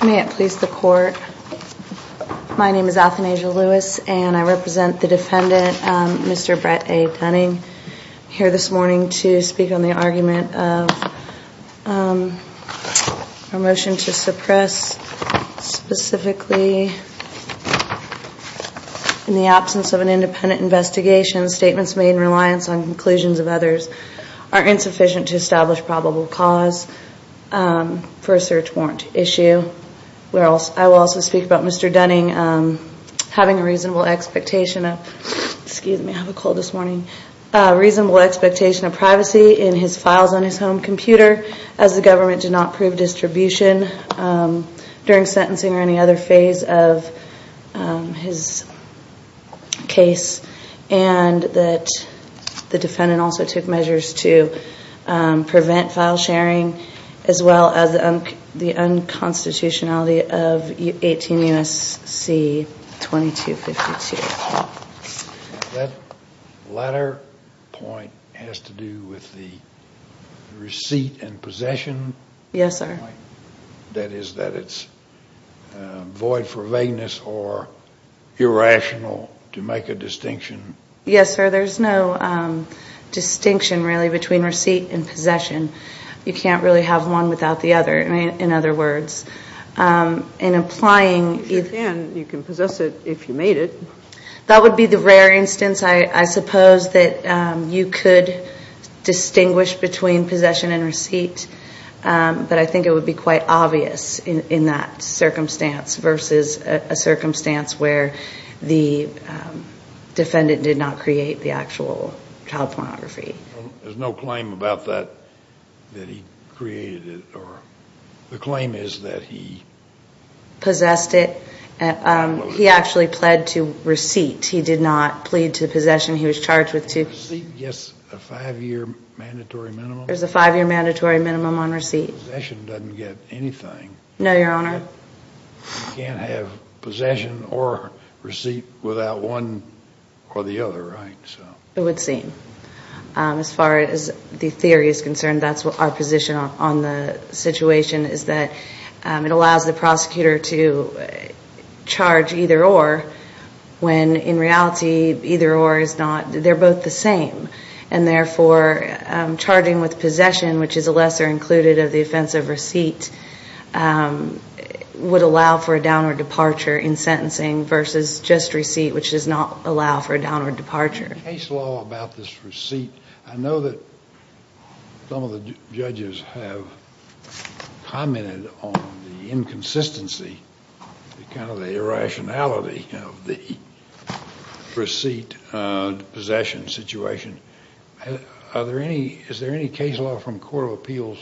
May it please the court. My name is Athanasia Lewis and I represent the defendant Mr. Bret A. Dunning here this morning to speak on the argument of a motion to suppress specifically in the absence of an independent investigation statements made in reliance on conclusions of others are insufficient to establish probable cause for a search warrant issue. I will also speak about Mr. Dunning having a reasonable expectation of privacy in his files on his home computer as the government did not prove distribution during sentencing or any other phase of his case. And that the defendant also took measures to prevent file sharing as well as the unconstitutionality of 18 U.S.C. 2252. That latter point has to do with the receipt and possession. Yes, sir. That is that it's void for vagueness or irrational to make a distinction. Yes, sir. There's no distinction really between receipt and possession. You can't really have one without the other in other words. If you can, you can possess it if you made it. That would be the rare instance I suppose that you could distinguish between possession and receipt. But I think it would be quite obvious in that circumstance versus a circumstance where the defendant did not create the actual child pornography. There's no claim about that, that he created it or the claim is that he. Possessed it. He actually pled to receipt. He did not plead to possession. He was charged with two. Receipt gets a five year mandatory minimum. There's a five year mandatory minimum on receipt. Possession doesn't get anything. No, your honor. You can't have possession or receipt without one or the other, right? It would seem. As far as the theory is concerned, that's what our position on the situation is that it allows the prosecutor to charge either or when in reality either or is not. They're both the same. And therefore, charging with possession, which is a lesser included of the offensive receipt, would allow for a downward departure in sentencing versus just receipt, which does not allow for a downward departure. Case law about this receipt. I know that some of the judges have commented on the inconsistency, kind of the irrationality of the receipt possession situation. Are there any, is there any case law from court of appeals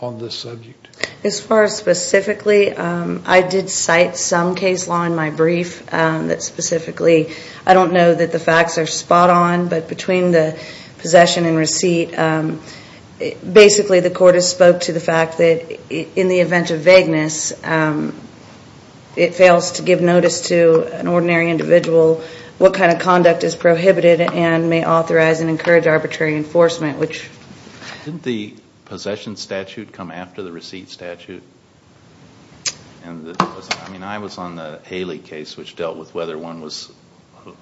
on this subject? As far as specifically, I did cite some case law in my brief that specifically, I don't know that the facts are spot on. But between the possession and receipt, basically the court has spoke to the fact that in the event of vagueness, it fails to give notice to an ordinary individual what kind of conduct is prohibited and may authorize and encourage arbitrary enforcement. Didn't the possession statute come after the receipt statute? I mean, I was on the Haley case, which dealt with whether one was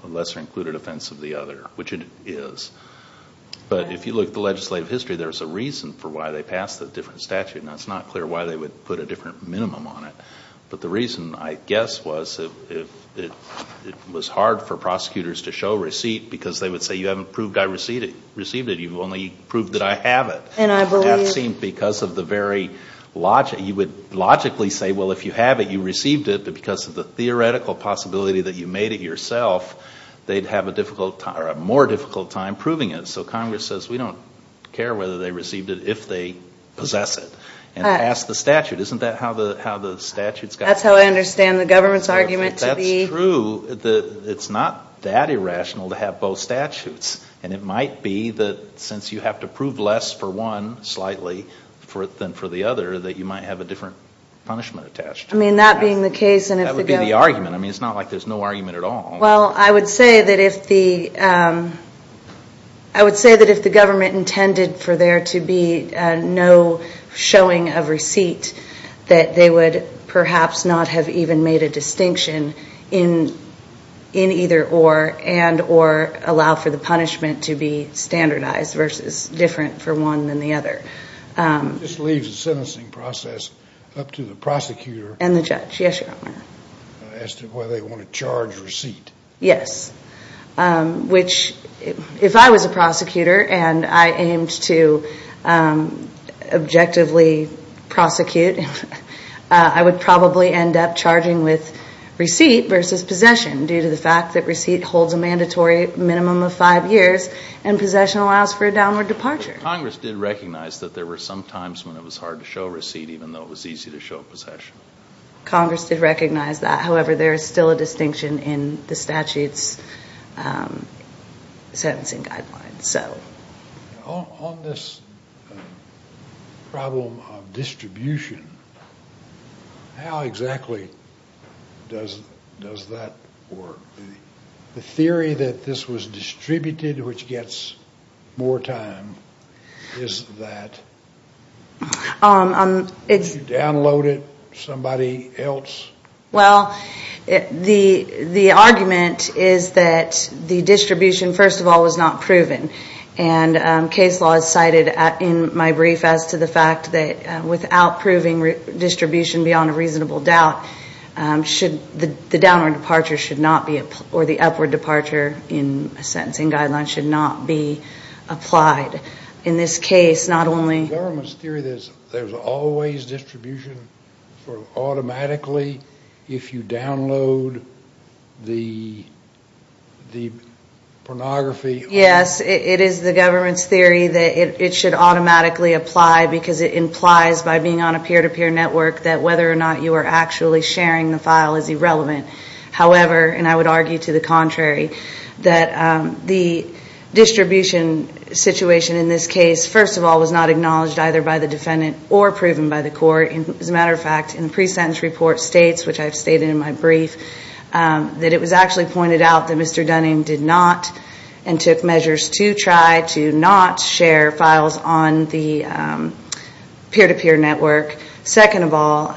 a lesser included offense of the other, which it is. But if you look at the legislative history, there's a reason for why they passed a different statute. Now, it's not clear why they would put a different minimum on it. But the reason, I guess, was it was hard for prosecutors to show receipt because they would say, you haven't proved I received it. You've only proved that I have it. That seemed because of the very logic. You would logically say, well, if you have it, you received it. But because of the theoretical possibility that you made it yourself, they'd have a more difficult time proving it. So Congress says, we don't care whether they received it, if they possess it. And they passed the statute. Isn't that how the statute's got to be? That's how I understand the government's argument to be. That's true. It's not that irrational to have both statutes. And it might be that since you have to prove less for one, slightly, than for the other, that you might have a different punishment attached to it. I mean, that being the case, and if the government. That would be the argument. I mean, it's not like there's no argument at all. Well, I would say that if the government intended for there to be no showing of receipt, that they would perhaps not have even made a distinction in either or, and or allow for the punishment to be standardized versus different for one than the other. This leaves the sentencing process up to the prosecutor. And the judge. Yes, Your Honor. As to whether they want to charge receipt. Yes. Which, if I was a prosecutor and I aimed to objectively prosecute, I would probably end up charging with receipt versus possession due to the fact that receipt holds a mandatory minimum of five years and possession allows for a downward departure. Congress did recognize that there were some times when it was hard to show receipt, even though it was easy to show possession. Congress did recognize that. However, there is still a distinction in the statute's sentencing guidelines. So. On this problem of distribution, how exactly does that work? The theory that this was distributed, which gets more time, is that you download it, and somebody else. Well, the argument is that the distribution, first of all, was not proven. And case law is cited in my brief as to the fact that without proving distribution beyond a reasonable doubt, the downward departure should not be, or the upward departure in a sentencing guideline should not be applied. In this case, not only. In the government's theory, there's always distribution automatically if you download the pornography. Yes, it is the government's theory that it should automatically apply because it implies, by being on a peer-to-peer network, that whether or not you are actually sharing the file is irrelevant. However, and I would argue to the contrary, that the distribution situation in this case, first of all, was not acknowledged either by the defendant or proven by the court. As a matter of fact, in the pre-sentence report states, which I've stated in my brief, that it was actually pointed out that Mr. Dunning did not and took measures to try to not share files on the peer-to-peer network. Second of all,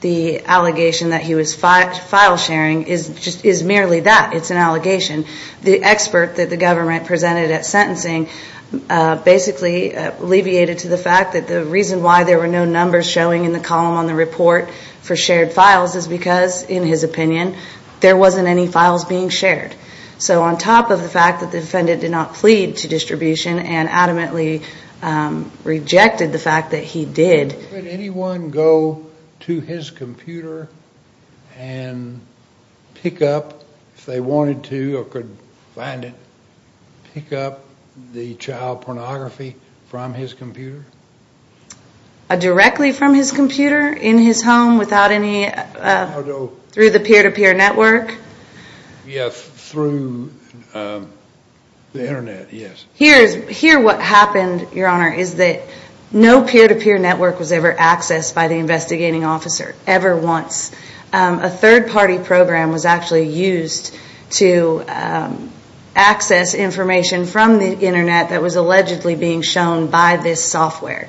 the allegation that he was file sharing is merely that. It's an allegation. The expert that the government presented at sentencing basically alleviated to the fact that the reason why there were no numbers showing in the column on the report for shared files is because, in his opinion, there wasn't any files being shared. So on top of the fact that the defendant did not plead to distribution and adamantly rejected the fact that he did. Could anyone go to his computer and pick up, if they wanted to or could find it, pick up the child pornography from his computer? Directly from his computer in his home without any, through the peer-to-peer network? Yes, through the internet, yes. Here what happened, Your Honor, is that no peer-to-peer network was ever accessed by the investigating officer ever once. A third-party program was actually used to access information from the internet that was allegedly being shown by this software.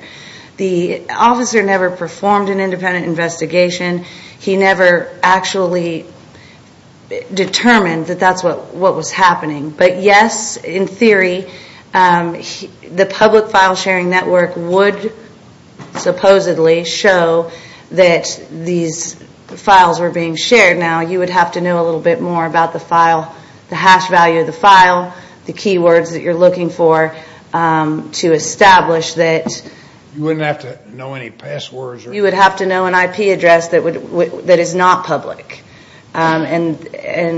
The officer never performed an independent investigation. He never actually determined that that's what was happening. But yes, in theory, the public file sharing network would supposedly show that these files were being shared. Now you would have to know a little bit more about the file, the hash value of the file, the keywords that you're looking for to establish that. You wouldn't have to know any passwords? You would have to know an IP address that is not public. And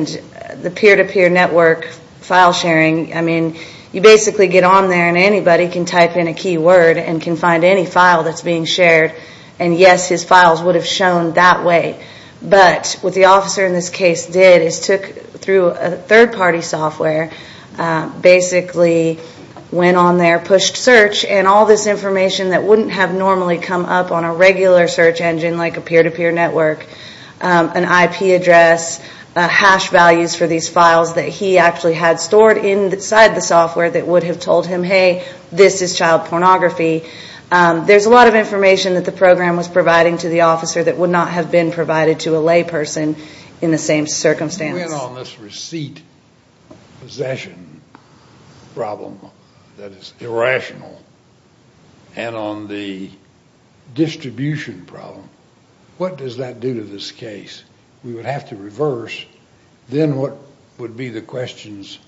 the peer-to-peer network file sharing, I mean, you basically get on there and anybody can type in a keyword and can find any file that's being shared. And yes, his files would have shown that way. But what the officer in this case did is took, through a third-party software, basically went on there, pushed search, and all this information that wouldn't have normally come up on a regular search engine like a peer-to-peer network, an IP address, hash values for these files that he actually had stored inside the software that would have told him, hey, this is child pornography. There's a lot of information that the program was providing to the officer that would not have been provided to a layperson in the same circumstance. You went on this receipt possession problem that is irrational and on the distribution problem. What does that do to this case? We would have to reverse. Then what would be the questions?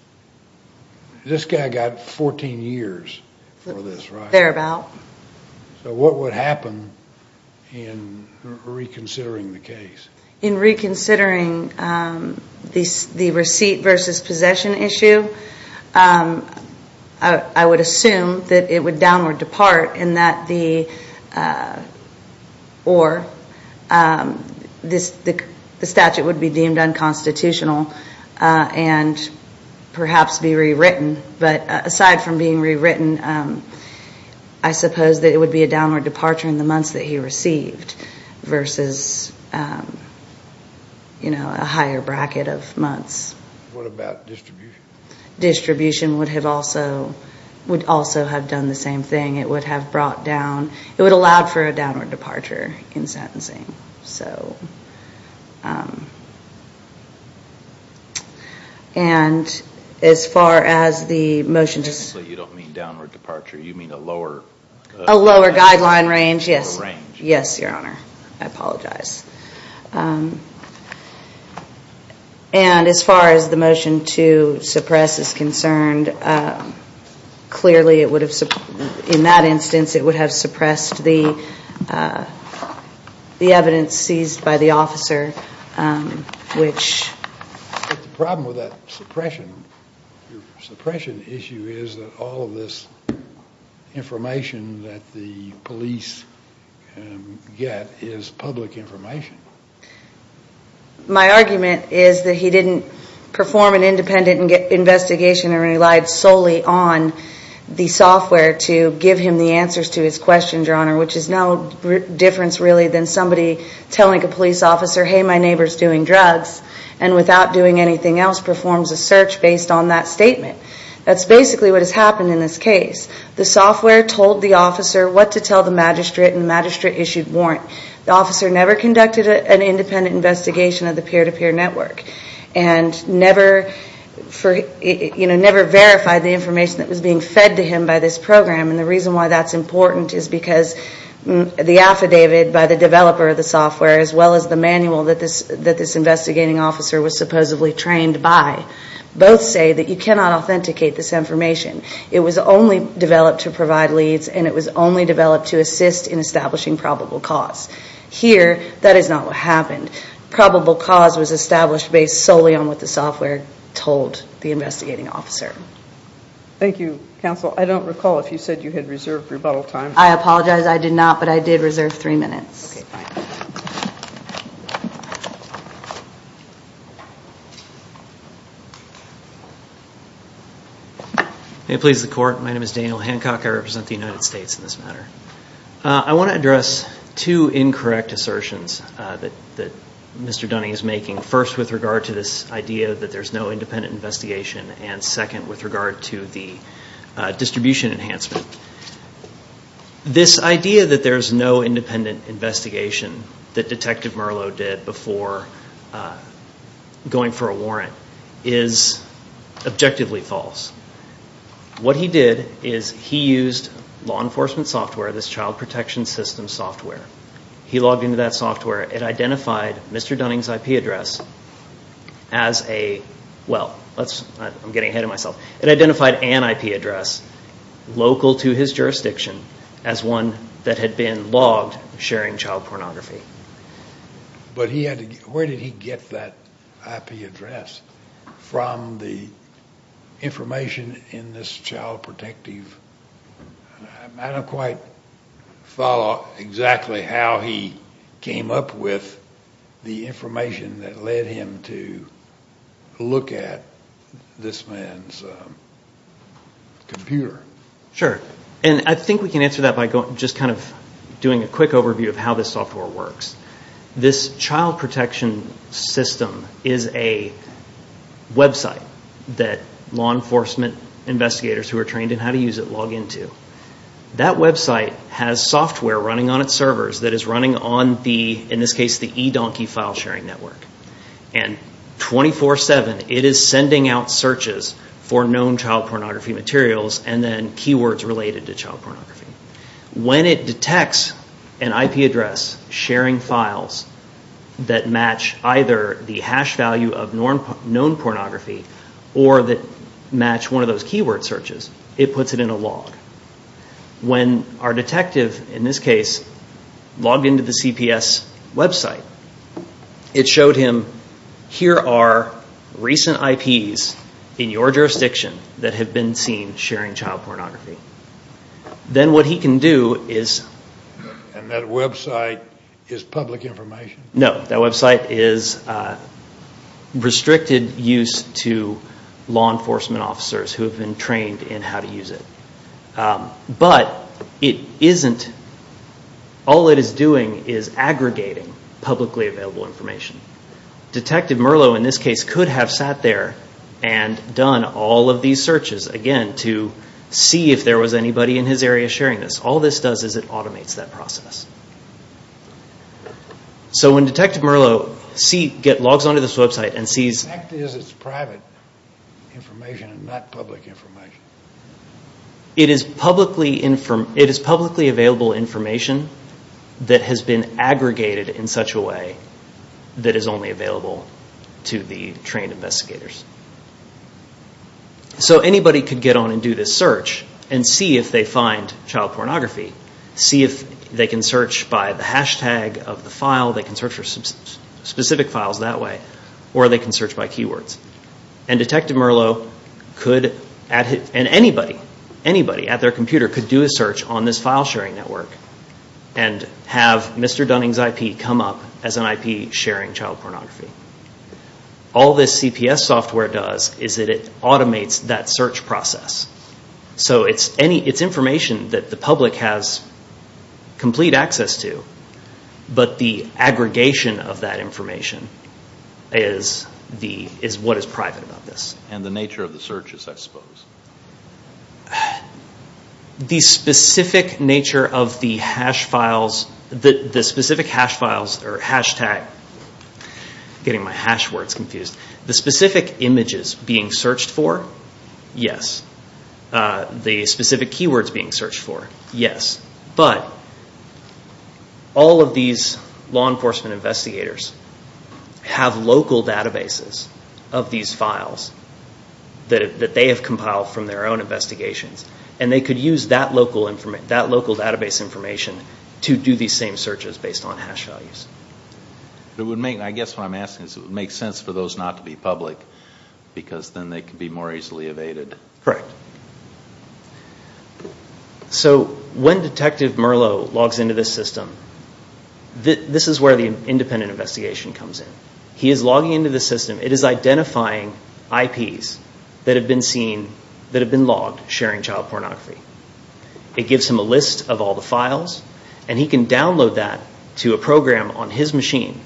This guy got 14 years for this, right? Thereabout. So what would happen in reconsidering the case? In reconsidering the receipt versus possession issue, I would assume that it would downward depart in that the statute would be deemed unconstitutional and perhaps be rewritten. Aside from being rewritten, I suppose that it would be a downward departure in the months that he received versus a higher bracket of months. What about distribution? Distribution would also have done the same thing. It would have brought down. It would have allowed for a downward departure in sentencing. So, and as far as the motion to... Technically, you don't mean downward departure. You mean a lower... A lower guideline range, yes. Range. Yes, Your Honor. I apologize. And as far as the motion to suppress is concerned, clearly it would have... seized by the officer, which... But the problem with that suppression issue is that all of this information that the police get is public information. My argument is that he didn't perform an independent investigation and relied solely on the software to give him the answers to his questions, Your Honor, which is no difference really than somebody telling a police officer, hey, my neighbor's doing drugs, and without doing anything else performs a search based on that statement. That's basically what has happened in this case. The software told the officer what to tell the magistrate and the magistrate issued warrant. The officer never conducted an independent investigation of the peer-to-peer network and never verified the information that was being fed to him by this program. And the reason why that's important is because the affidavit by the developer of the software as well as the manual that this investigating officer was supposedly trained by, both say that you cannot authenticate this information. It was only developed to provide leads and it was only developed to assist in establishing probable cause. Here, that is not what happened. Probable cause was established based solely on what the software told the investigating officer. Thank you, counsel. I don't recall if you said you had reserved rebuttal time. I apologize. I did not, but I did reserve three minutes. Okay, fine. May it please the Court. My name is Daniel Hancock. I represent the United States in this matter. I want to address two incorrect assertions that Mr. Dunning is making, first with regard to this idea that there's no independent investigation and second with regard to the distribution enhancement. This idea that there's no independent investigation that Detective Merlo did before going for a warrant is objectively false. What he did is he used law enforcement software, this child protection system software. He logged into that software. It identified Mr. Dunning's IP address as a, well, I'm getting ahead of myself. It identified an IP address local to his jurisdiction as one that had been logged sharing child pornography. But where did he get that IP address from the information in this child protective? I don't quite follow exactly how he came up with the information that led him to look at this man's computer. Sure, and I think we can answer that by just kind of doing a quick overview of how this software works. This child protection system is a website that law enforcement investigators who are trained in how to use it log into. That website has software running on its servers that is running on the, in this case, the eDonkey file sharing network. And 24-7 it is sending out searches for known child pornography materials and then keywords related to child pornography. When it detects an IP address sharing files that match either the hash value of known pornography or that match one of those keyword searches, it puts it in a log. When our detective, in this case, logged into the CPS website, it showed him here are recent IPs in your jurisdiction that have been seen sharing child pornography. Then what he can do is... And that website is public information? No, that website is restricted use to law enforcement officers who have been trained in how to use it. But it isn't, all it is doing is aggregating publicly available information. Detective Merlo, in this case, could have sat there and done all of these searches, again, to see if there was anybody in his area sharing this. All this does is it automates that process. So when Detective Merlo logs onto this website and sees... The fact is it's private information and not public information. It is publicly available information that has been aggregated in such a way that is only available to the trained investigators. So anybody could get on and do this search and see if they find child pornography, see if they can search by the hashtag of the file, they can search for specific files that way, or they can search by keywords. And Detective Merlo could... And anybody at their computer could do a search on this file sharing network and have Mr. Dunning's IP come up as an IP sharing child pornography. All this CPS software does is it automates that search process. So it's information that the public has complete access to, but the aggregation of that information is what is private about this. And the nature of the searches, I suppose. The specific nature of the hash files... The specific hash files or hashtag... I'm getting my hash words confused. The specific images being searched for, yes. The specific keywords being searched for, yes. But all of these law enforcement investigators have local databases of these files that they have compiled from their own investigations, and they could use that local database information to do these same searches based on hash values. I guess what I'm asking is it would make sense for those not to be public, because then they could be more easily evaded. Correct. So when Detective Merlo logs into this system, this is where the independent investigation comes in. He is logging into the system. It is identifying IPs that have been logged sharing child pornography. It gives him a list of all the files, and he can download that to a program on his machine.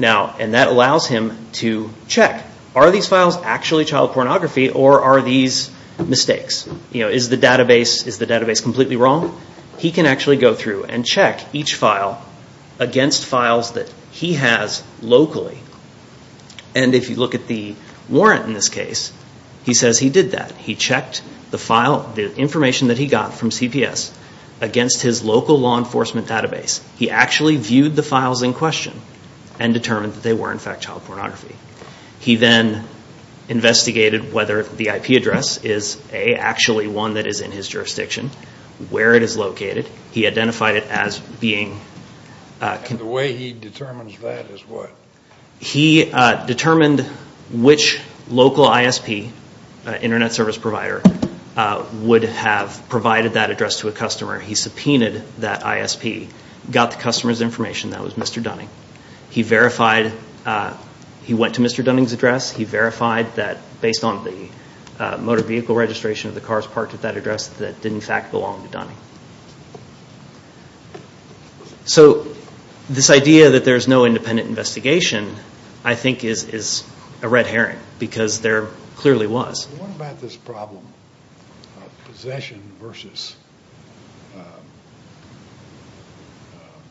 And that allows him to check, are these files actually child pornography or are these mistakes? Is the database completely wrong? He can actually go through and check each file against files that he has locally. And if you look at the warrant in this case, he says he did that. He checked the information that he got from CPS against his local law enforcement database. He actually viewed the files in question and determined that they were, in fact, child pornography. He then investigated whether the IP address is actually one that is in his jurisdiction, where it is located. He identified it as being... And the way he determines that is what? He determined which local ISP, Internet Service Provider, would have provided that address to a customer. He subpoenaed that ISP, got the customer's information. That was Mr. Dunning. He went to Mr. Dunning's address. He verified that based on the motor vehicle registration that didn't, in fact, belong to Dunning. So this idea that there's no independent investigation, I think, is a red herring, because there clearly was. What about this problem of possession versus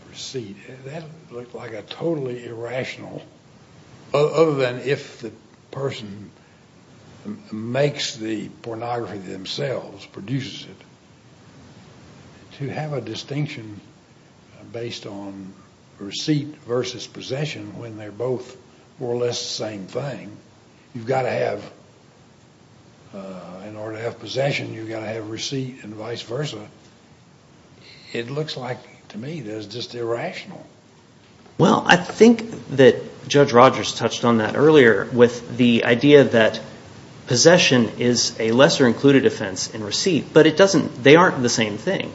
receipt? That looked like a totally irrational... other than if the person makes the pornography themselves, produces it, to have a distinction based on receipt versus possession when they're both more or less the same thing. You've got to have... In order to have possession, you've got to have receipt and vice versa. It looks like, to me, that it's just irrational. Well, I think that Judge Rogers touched on that earlier with the idea that possession is a lesser included offense than receipt, but they aren't the same thing.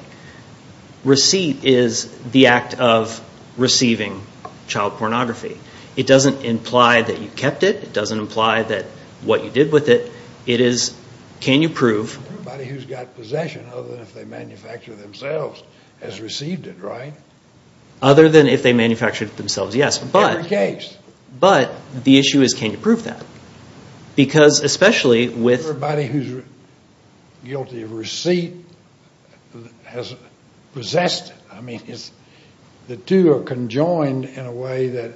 Receipt is the act of receiving child pornography. It doesn't imply that you kept it. It doesn't imply that what you did with it. It is, can you prove... Everybody who's got possession, other than if they manufacture it themselves, has received it, right? Other than if they manufactured it themselves, yes. In every case. But the issue is, can you prove that? Because especially with... The guilty of receipt has possessed it. I mean, it's... The two are conjoined in a way that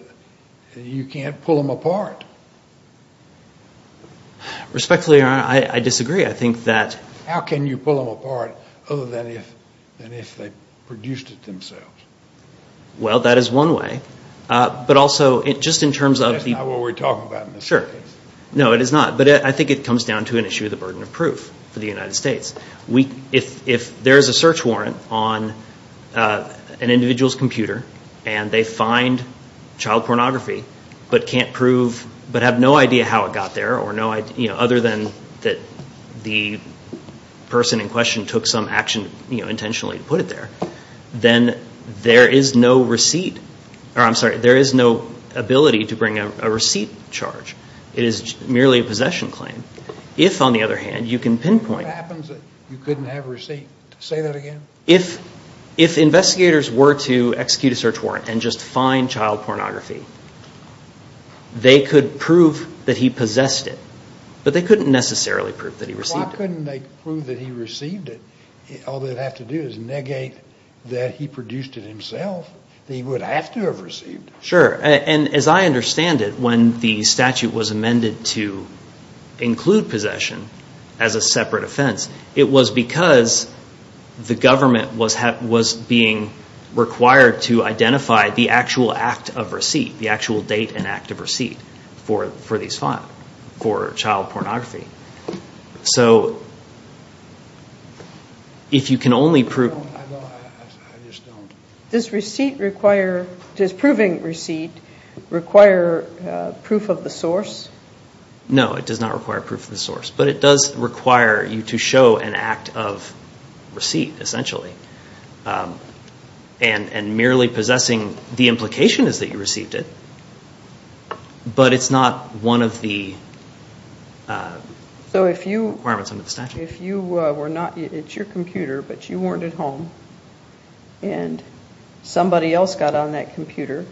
you can't pull them apart. Respectfully, Your Honor, I disagree. I think that... How can you pull them apart other than if they produced it themselves? Well, that is one way. But also, just in terms of the... That's not what we're talking about in this case. Sure. No, it is not. But I think it comes down to an issue of the burden of proof for the United States. If there is a search warrant on an individual's computer and they find child pornography but can't prove... But have no idea how it got there or no idea... Other than that the person in question took some action intentionally to put it there, then there is no receipt... I'm sorry, there is no ability to bring a receipt charge. It is merely a possession claim. If, on the other hand, you can pinpoint... What happens if you couldn't have a receipt? Say that again? If investigators were to execute a search warrant and just find child pornography, they could prove that he possessed it. But they couldn't necessarily prove that he received it. Why couldn't they prove that he received it? All they'd have to do is negate that he produced it himself, that he would have to have received it. Sure. As I understand it, when the statute was amended to include possession as a separate offense, it was because the government was being required to identify the actual act of receipt, the actual date and act of receipt for these five, for child pornography. So if you can only prove... I just don't... Does receipt require... Does proving receipt require proof of the source? No, it does not require proof of the source. But it does require you to show an act of receipt, essentially. And merely possessing the implication is that you received it, but it's not one of the requirements under the statute. If you were not... It's your computer, but you weren't at home, and somebody else got on that computer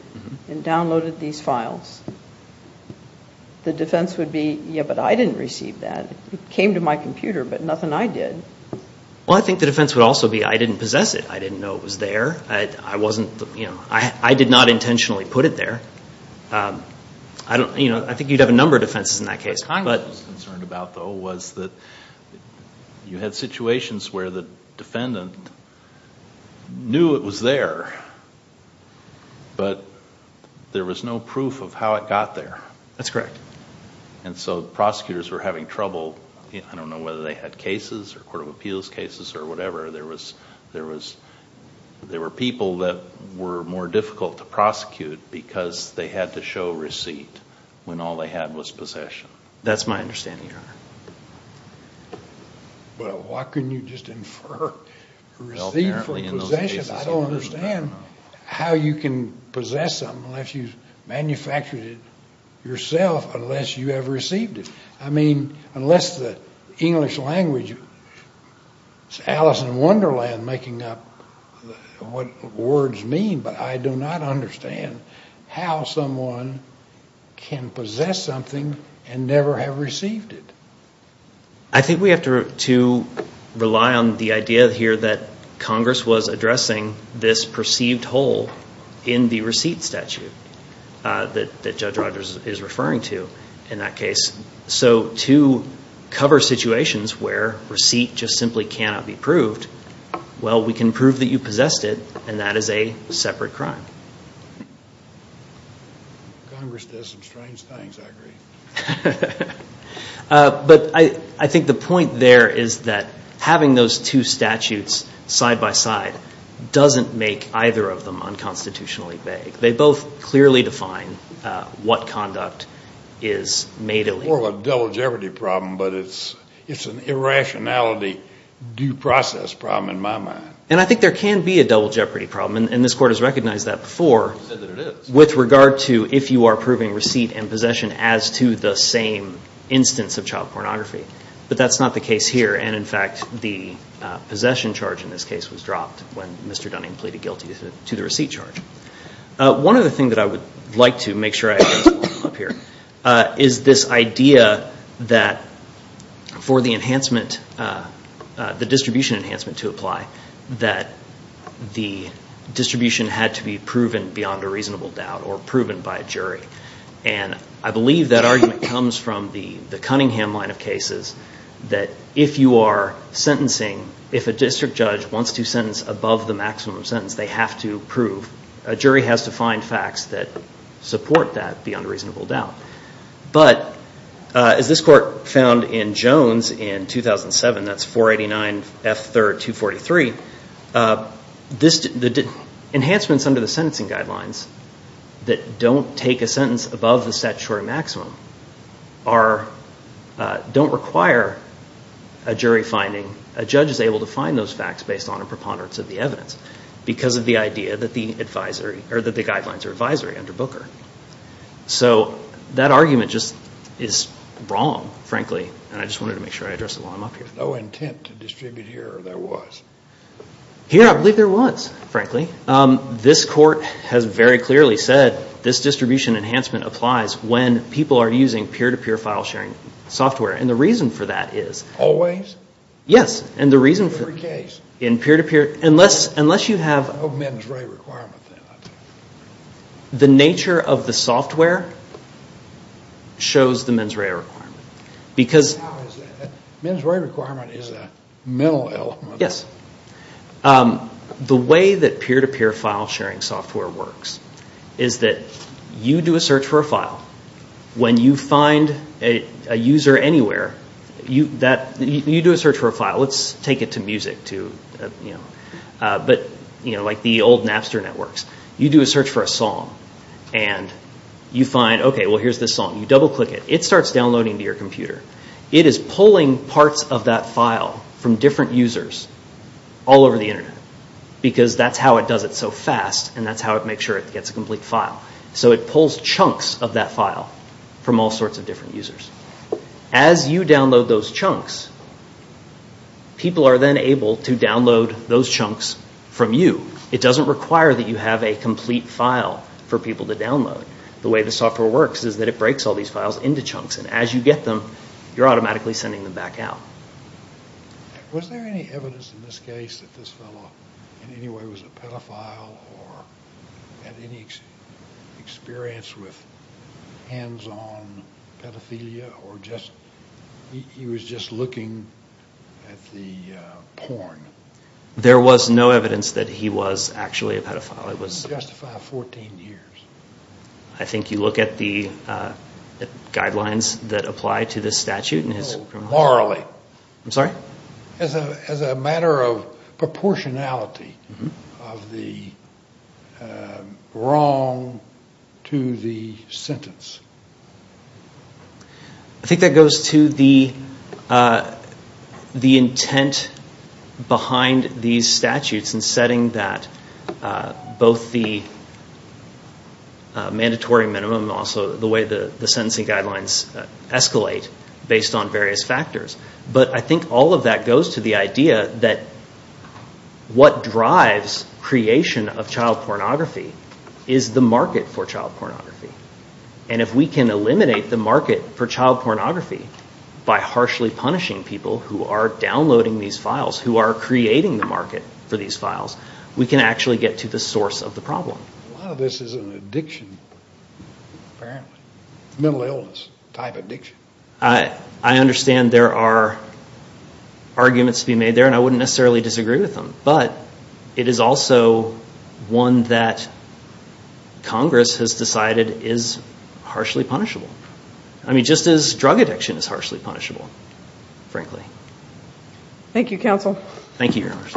and downloaded these files, the defense would be, yeah, but I didn't receive that. It came to my computer, but nothing I did. Well, I think the defense would also be I didn't possess it. I didn't know it was there. I wasn't... I did not intentionally put it there. I think you'd have a number of defenses in that case. What Congress was concerned about, though, was that you had situations where the defendant knew it was there, but there was no proof of how it got there. That's correct. And so prosecutors were having trouble. I don't know whether they had cases or court of appeals cases or whatever. There were people that were more difficult to prosecute because they had to show receipt when all they had was possession. That's my understanding, Your Honor. But why couldn't you just infer receipt for possession? I don't understand how you can possess something unless you've manufactured it yourself, unless you have received it. I mean, unless the English language, it's Alice in Wonderland making up what words mean, but I do not understand how someone can possess something and never have received it. I think we have to rely on the idea here that Congress was addressing this perceived hole in the receipt statute that Judge Rogers is referring to in that case. Well, we can prove that you possessed it, and that is a separate crime. Congress does some strange things, I agree. But I think the point there is that having those two statutes side by side doesn't make either of them unconstitutionally vague. They both clearly define what conduct is made illegal. It's more of a double jeopardy problem, but it's an irrationality due process problem in my mind. And I think there can be a double jeopardy problem, and this Court has recognized that before, with regard to if you are proving receipt and possession as to the same instance of child pornography. But that's not the case here. And, in fact, the possession charge in this case was dropped when Mr. Dunning pleaded guilty to the receipt charge. One other thing that I would like to make sure I have up here is this idea that for the distribution enhancement to apply, that the distribution had to be proven beyond a reasonable doubt or proven by a jury. And I believe that argument comes from the Cunningham line of cases that if you are sentencing, if a district judge wants to sentence above the maximum sentence, they have to prove. A jury has to find facts that support that beyond a reasonable doubt. But as this Court found in Jones in 2007, that's 489 F. 3rd, 243, the enhancements under the sentencing guidelines that don't take a sentence above the statutory maximum don't require a jury finding, a judge is able to find those facts based on a preponderance of the evidence because of the idea that the guidelines are advisory under Booker. So that argument just is wrong, frankly. And I just wanted to make sure I addressed it while I'm up here. There's no intent to distribute here or there was? Here I believe there was, frankly. This Court has very clearly said this distribution enhancement applies when people are using peer-to-peer file sharing software. And the reason for that is... Always? Yes. In every case? In peer-to-peer. Unless you have... No mens rea requirement then? The nature of the software shows the mens rea requirement. How is that? A mens rea requirement is a mental element. Yes. The way that peer-to-peer file sharing software works is that you do a search for a file. When you find a user anywhere, you do a search for a file. Let's take it to music. But like the old Napster networks. You do a search for a song. And you find, okay, well here's this song. You double-click it. It starts downloading to your computer. It is pulling parts of that file from different users all over the internet. Because that's how it does it so fast. And that's how it makes sure it gets a complete file. So it pulls chunks of that file from all sorts of different users. As you download those chunks, people are then able to download those chunks from you. It doesn't require that you have a complete file for people to download. The way the software works is that it breaks all these files into chunks. And as you get them, you're automatically sending them back out. Was there any evidence in this case that this fellow in any way was a pedophile or had any experience with hands-on pedophilia? Or he was just looking at the porn? There was no evidence that he was actually a pedophile. It doesn't justify 14 years. I think you look at the guidelines that apply to this statute. No, morally. I'm sorry? As a matter of proportionality of the wrong to the sentence. I think that goes to the intent behind these statutes in setting that both the mandatory minimum and also the way the sentencing guidelines escalate based on various factors. But I think all of that goes to the idea that what drives creation of child pornography is the market for child pornography. And if we can eliminate the market for child pornography by harshly punishing people who are downloading these files, who are creating the market for these files, we can actually get to the source of the problem. A lot of this is an addiction, apparently. Mental illness type addiction. I understand there are arguments to be made there and I wouldn't necessarily disagree with them. But it is also one that Congress has decided is harshly punishable. I mean, just as drug addiction is harshly punishable, frankly. Thank you, Your Honor.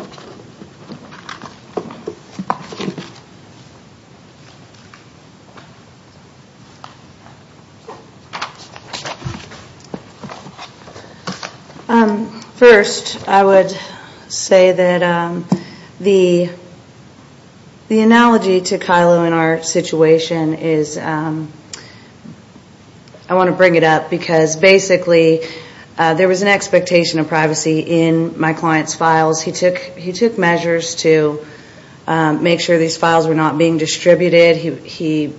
First, I would say that the analogy to Kylo in our situation is, I want to bring it up because basically, there was an expectation of privacy in my client's files. He took measures to make sure these files were not being distributed. He was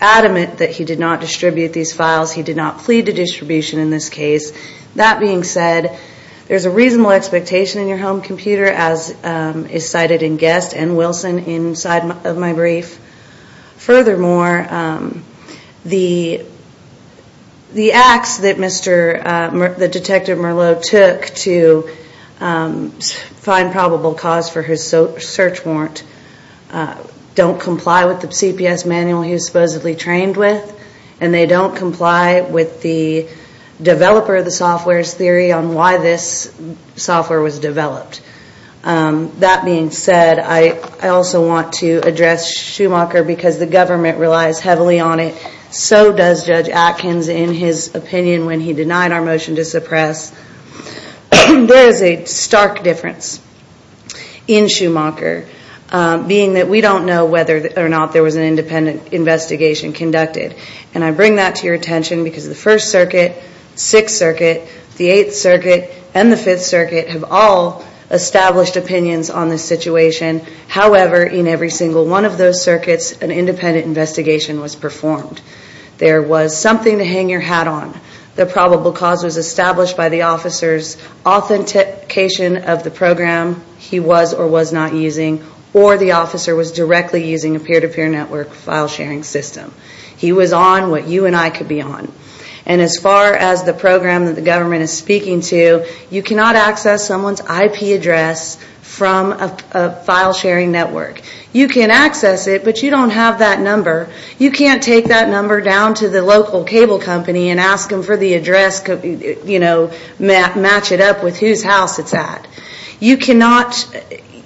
adamant that he did not distribute these files. He did not plead to distribution in this case. That being said, there's a reasonable expectation in your home computer as is cited in Guest and Wilson inside of my brief. Furthermore, the acts that Detective Merlot took to find probable cause for his search warrant don't comply with the CPS manual he was supposedly trained with and they don't comply with the developer of the software's theory on why this software was developed. That being said, I also want to address Schumacher because the government relies heavily on it. So does Judge Atkins in his opinion when he denied our motion to suppress. There is a stark difference in Schumacher, being that we don't know whether or not there was an independent investigation conducted. And I bring that to your attention because the 1st Circuit, 6th Circuit, the 8th Circuit, and the 5th Circuit have all established opinions on this situation. However, in every single one of those circuits, an independent investigation was performed. There was something to hang your hat on. The probable cause was established by the officer's authentication of the program he was or was not using or the officer was directly using a peer-to-peer network file sharing system. He was on what you and I could be on. And as far as the program that the government is speaking to, you cannot access someone's IP address from a file sharing network. You can access it, but you don't have that number. You can't take that number down to the local cable company and ask them for the address, match it up with whose house it's at. You cannot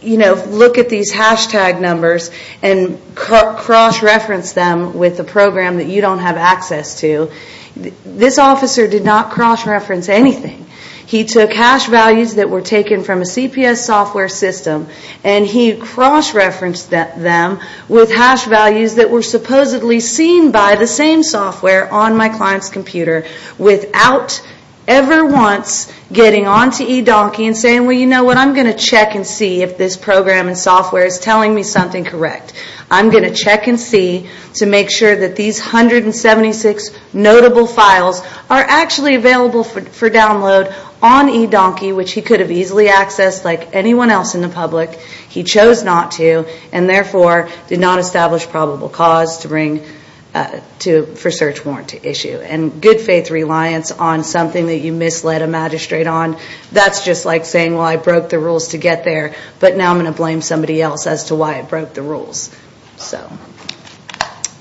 look at these hashtag numbers and cross-reference them with a program that you don't have access to. This officer did not cross-reference anything. He took hash values that were taken from a CPS software system and he cross-referenced them with hash values that were supposedly seen by the same software on my client's computer without ever once getting on to eDonkey and saying, well, you know what, I'm going to check and see if this program and software is telling me something correct. I'm going to check and see to make sure that these 176 notable files are actually available for download on eDonkey, which he could have easily accessed like anyone else in the public. He chose not to and therefore did not establish probable cause for search warranty issue. Good faith reliance on something that you misled a magistrate on, that's just like saying, well, I broke the rules to get there, but now I'm going to blame somebody else as to why I broke the rules.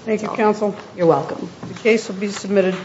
Thank you, counsel. The case will be submitted.